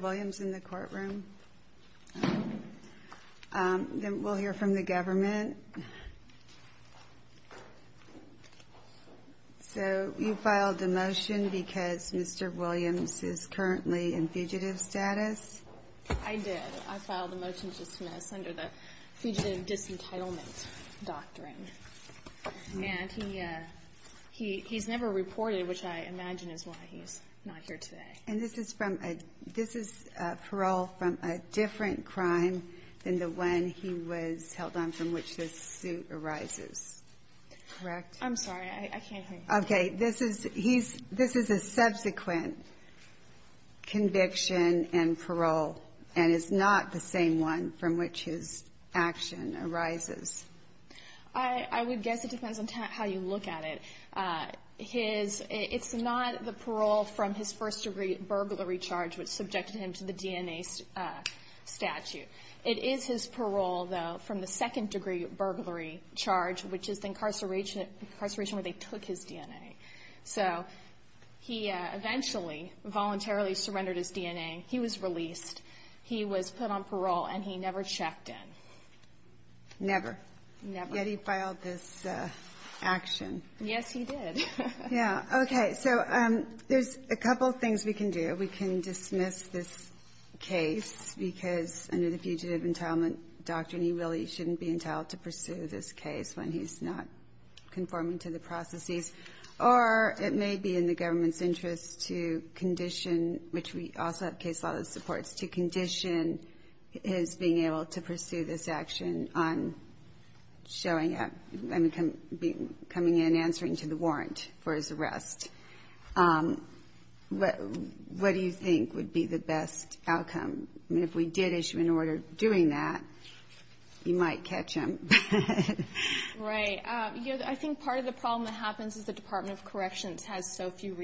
Williams in the courtroom. Then we'll hear from the government. So you filed the motion because Mr. Williams is currently in fugitive status. I did. I filed a motion to dismiss under the fugitive disentitlement doctrine. And he he he's never reported, which I imagine is why he's not here today. And this is from a this is parole from a different crime than the one he was held on from which this suit arises. Correct? I'm sorry, I can't. Okay, this is he's this is a subsequent conviction and parole and is not the same one from which his action arises. I would guess it depends on how you look at it. His it's not the parole from his first degree burglary charge, which subjected him to the DNA statute. It is his parole, though, from the second degree burglary charge, which is the incarceration, incarceration where they took his DNA. So he eventually voluntarily surrendered his DNA. He was released. He was put on parole, and he never checked in. Never. Never. Yet he filed this action. Yes, he did. Yeah. Okay. So there's a couple of things we can do. We can dismiss this case because under the fugitive entitlement doctrine, he really shouldn't be entitled to pursue this case when he's not conforming to the processes. Or it may be in the government's interest to condition, which we also have case law that supports, to condition his being able to pursue this action on showing up, coming in, answering to the warrant for his arrest. What do you think would be the best outcome? I mean, if we did issue an order doing that, you might catch him. Right. You know, I think part of the problem that happens is the Department of Corrections has so few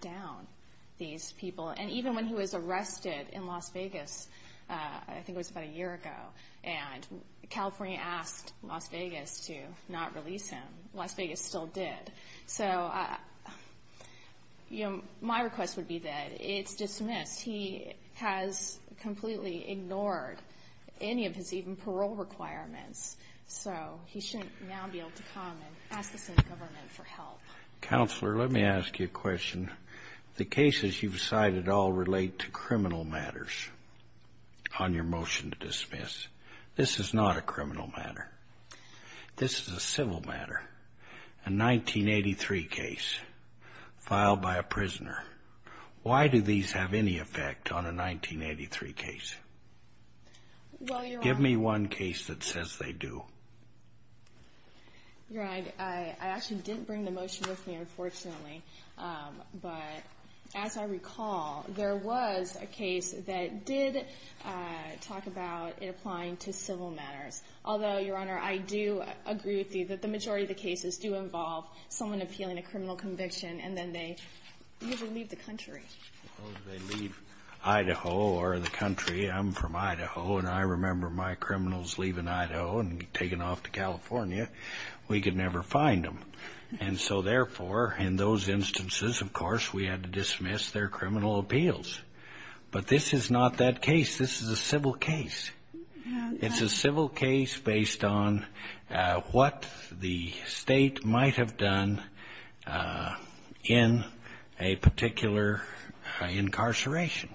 down these people. And even when he was arrested in Las Vegas, I think it was about a year ago, and California asked Las Vegas to not release him, Las Vegas still did. So, you know, my request would be that it's dismissed. He has completely ignored any of his even parole requirements. So he shouldn't now be able to come and ask the state government for help. Counselor, let me ask you a question. The cases you've cited all relate to criminal matters on your motion to dismiss. This is not a criminal matter. This is a civil matter, a 1983 case filed by a prisoner. Why do these have any effect on a 1983 case? Well, Your Honor... Give me one case that says they do. Your Honor, I actually didn't bring the motion with me, unfortunately. But as I recall, there was a case that did talk about it applying to civil matters. Although, Your Honor, I do agree with you that the majority of the cases do involve someone appealing a criminal conviction, and then they usually leave the country. Well, they leave Idaho or the country. I'm from Idaho, and I remember my criminals leaving Idaho and taking off to California. We could never find them. And so, therefore, in those instances, of course, we had to dismiss their criminal appeals. But this is not that case. This is a civil case. It's a civil case based on what the state might have done in a particular incarceration.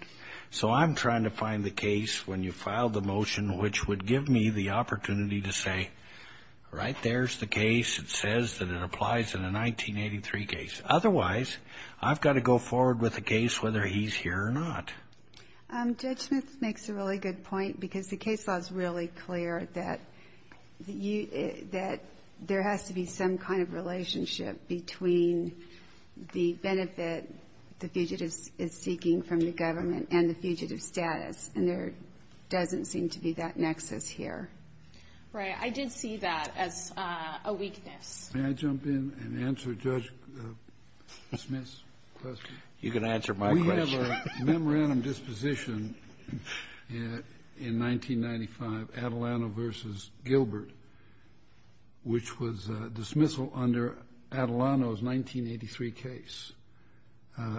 So I'm trying to find the case when you filed the motion which would give me the opportunity to say, right, there's the case. It says that it applies in a 1983 case. Otherwise, I've got to go forward with a case whether he's here or not. Judge Smith makes a really good point, because the case law is really clear that there has to be some kind of relationship between the benefit the fugitive is seeking from the government and the fugitive's status. And there doesn't seem to be that nexus here. Right. I did see that as a weakness. May I jump in and answer Judge Smith's question? You can answer my question. We have a memorandum disposition in 1995, Atalano v. Gilbert, which was dismissal under Atalano's 1983 case,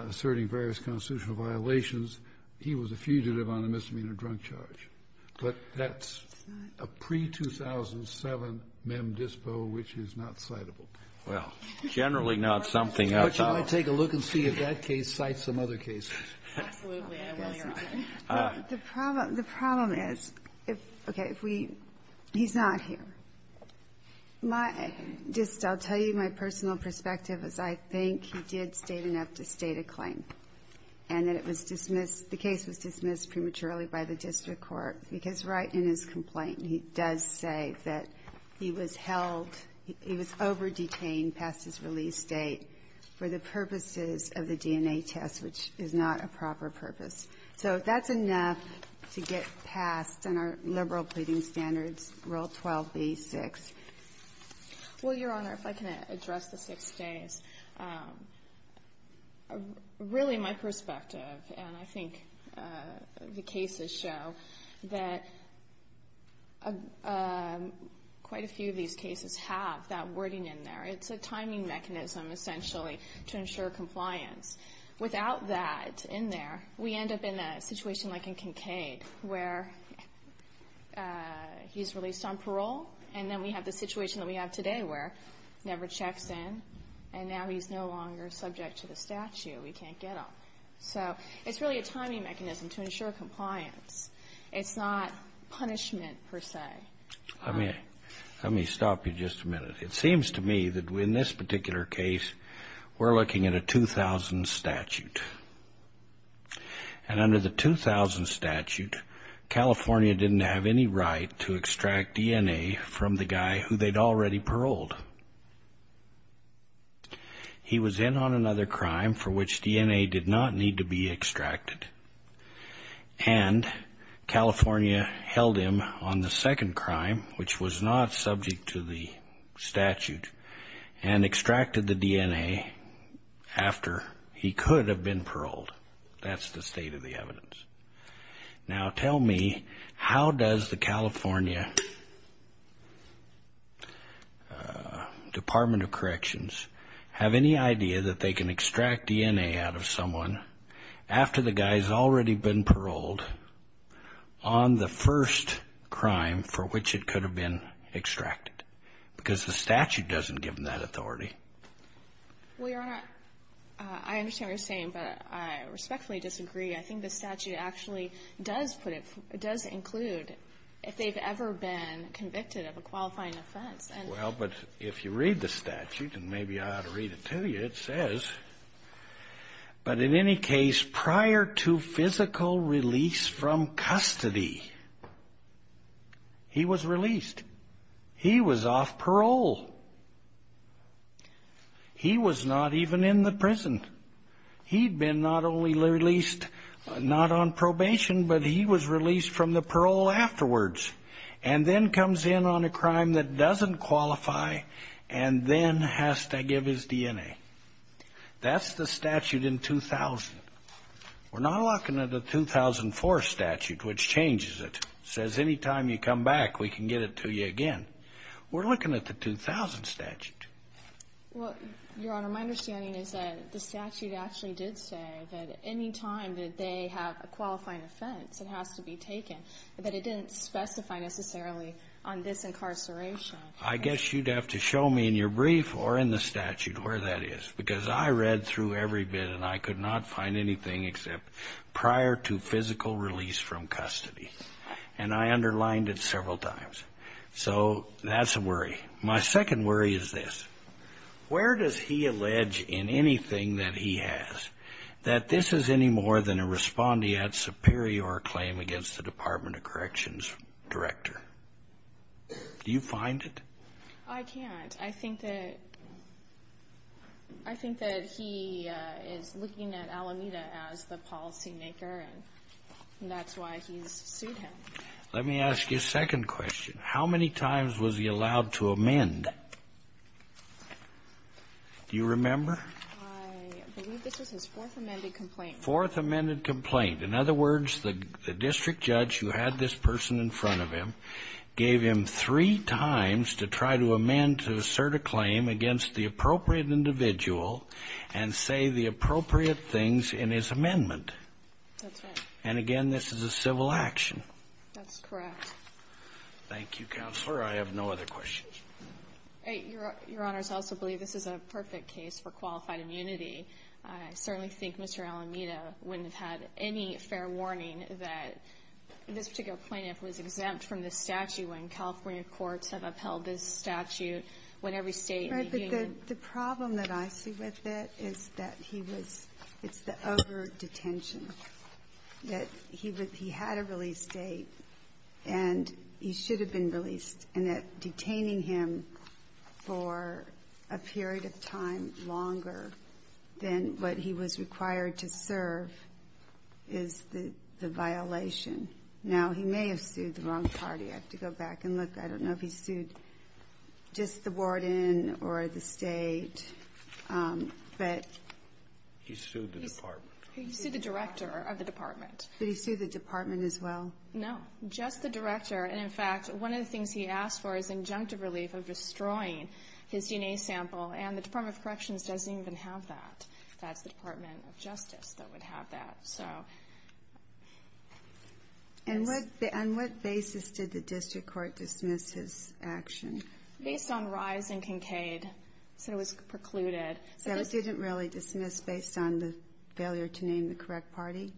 asserting various constitutional violations. He was a fugitive on a misdemeanor drunk charge. But that's a pre-2007 mem dispo which is not citable. Well, generally not something else. But you might take a look and see if that case cites some other cases. Absolutely. I will, Your Honor. The problem is, okay, if we he's not here. My just I'll tell you my personal perspective is I think he did state enough to state a claim and that it was dismissed, the case was dismissed prematurely by the district court, because right in his complaint he does say that he was held, he was over-detained past his release date for the purposes of the DNA test, which is not a proper purpose. So that's enough to get past in our liberal pleading standards, Rule 12b-6. Well, Your Honor, if I can address the six days. Really my perspective, and I think the cases show that quite a few of these cases have that wording in there. It's a timing mechanism, essentially, to ensure compliance. Without that in there, we end up in a situation like in Kincaid where he's released on parole, and then we have the situation that we have today where he never checks in, and now he's no longer subject to the statute. We can't get him. So it's really a timing mechanism to ensure compliance. It's not punishment, per se. Let me stop you just a minute. It seems to me that in this particular case, we're looking at a 2000 statute. And under the 2000 statute, California didn't have any right to extract DNA from the guy who they'd already paroled. He was in on another crime for which DNA did not need to be extracted, and the statute, and extracted the DNA after he could have been paroled. That's the state of the evidence. Now tell me, how does the California Department of Corrections have any idea that they can extract DNA out of someone after the guy's already been paroled on the first crime for which it could have been extracted? Because the statute doesn't give them that authority. Well, Your Honor, I understand what you're saying, but I respectfully disagree. I think the statute actually does put it, does include, if they've ever been convicted of a qualifying offense. Well, but if you read the statute, and maybe I ought to read it to you, it says, but in any case, prior to physical release from custody, he was released. He was off parole. He was not even in the prison. He'd been not only released, not on probation, but he was released from the parole afterwards, and then comes in on a crime that doesn't qualify, and then has to give his DNA. That's the statute in 2000. We're not looking at the 2004 statute, which changes it, says any time you come back, we can get it to you again. We're looking at the 2000 statute. Well, Your Honor, my understanding is that the statute actually did say that any time that they have a qualifying offense, it has to be taken, but it didn't specify necessarily on this incarceration. I guess you'd have to show me in your brief or in the statute where that is, because I read through every bit, and I could not find anything except prior to physical release from custody, and I underlined it several times. So that's a worry. My second worry is this. Where does he allege in anything that he has that this is any more than a respondeat superior claim against the Department of Corrections director? Do you find it? I can't. I think that he is looking at Alameda as the policymaker, and that's why he's sued him. Let me ask you a second question. How many times was he allowed to amend? Do you remember? I believe this was his fourth amended complaint. Fourth amended complaint. In other words, the district judge who had this person in front of him gave him three times to try to amend to assert a claim against the appropriate individual and say the appropriate things in his amendment. That's right. And again, this is a civil action. That's correct. Thank you, Counselor. I have no other questions. Your Honors, I also believe this is a perfect case for qualified immunity. I certainly think Mr. Alameda wouldn't have had any fair warning that this particular plaintiff was exempt from the statute when California courts have upheld this statute when every state in the union Right. But the problem that I see with it is that he was the over-detention, that he had a release date, and he should have been released, and that detaining him for a period of time longer than what he was required to serve is the violation. Now, he may have sued the wrong party. I have to go back and look. I don't know if he sued just the warden or the state, but. He sued the department. He sued the director of the department. Did he sue the department as well? No, just the director. And in fact, one of the things he asked for is injunctive relief of destroying his DNA sample, and the Department of Corrections doesn't even have that. That's the Department of Justice that would have that, so. And what basis did the district court dismiss his action? Based on rise in Kincaid, so it was precluded. So it didn't really dismiss based on the failure to name the correct party?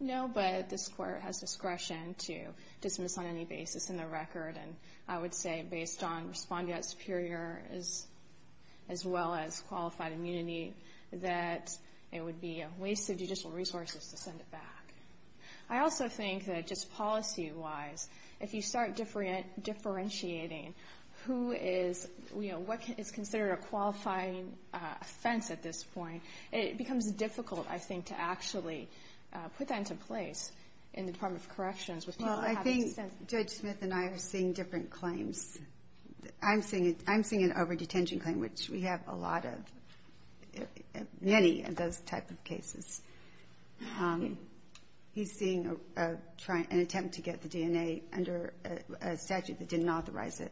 No, but this court has discretion to dismiss on any basis in the record, and I would say based on respondeat superior, as well as qualified immunity, that it would be a waste of judicial resources to send it back. I also think that just policy-wise, if you start differentiating who is, you know, what is considered a qualifying offense at this point, it becomes difficult, I think, to actually put that into place in the Department of Corrections. Well, I think Judge Smith and I are seeing different claims. I'm seeing an over-detention claim, which we have a lot of, many of those type of cases. He's seeing an attempt to get the DNA under a statute that didn't authorize it.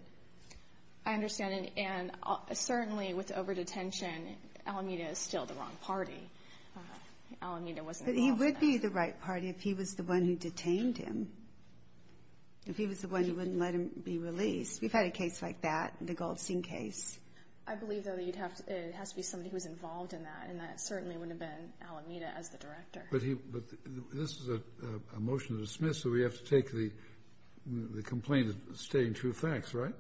I understand. And certainly with over-detention, Alameda is still the wrong party. Alameda wasn't involved in that. If he was the one who detained him, if he was the one who wouldn't let him be released. We've had a case like that, the Goldstein case. I believe, though, that it has to be somebody who was involved in that, and that certainly wouldn't have been Alameda as the director. But this is a motion to dismiss, so we have to take the complaint as stating true facts, right?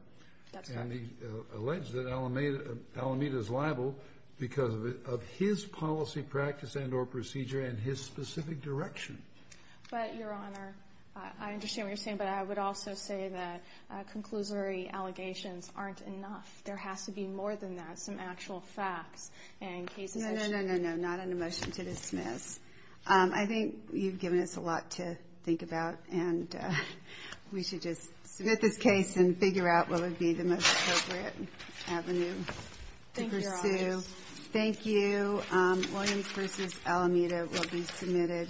That's correct. And he alleged that Alameda is liable because of his policy practice and or procedure and his specific direction. But, Your Honor, I understand what you're saying, but I would also say that conclusory allegations aren't enough. There has to be more than that, some actual facts and cases that should be... No, no, no, no, no. Not on a motion to dismiss. I think you've given us a lot to think about, and we should just submit this case and figure out what would be the most appropriate avenue to pursue. Thank you, Your Honor. Thank you. Williams v. Alameda will be submitted.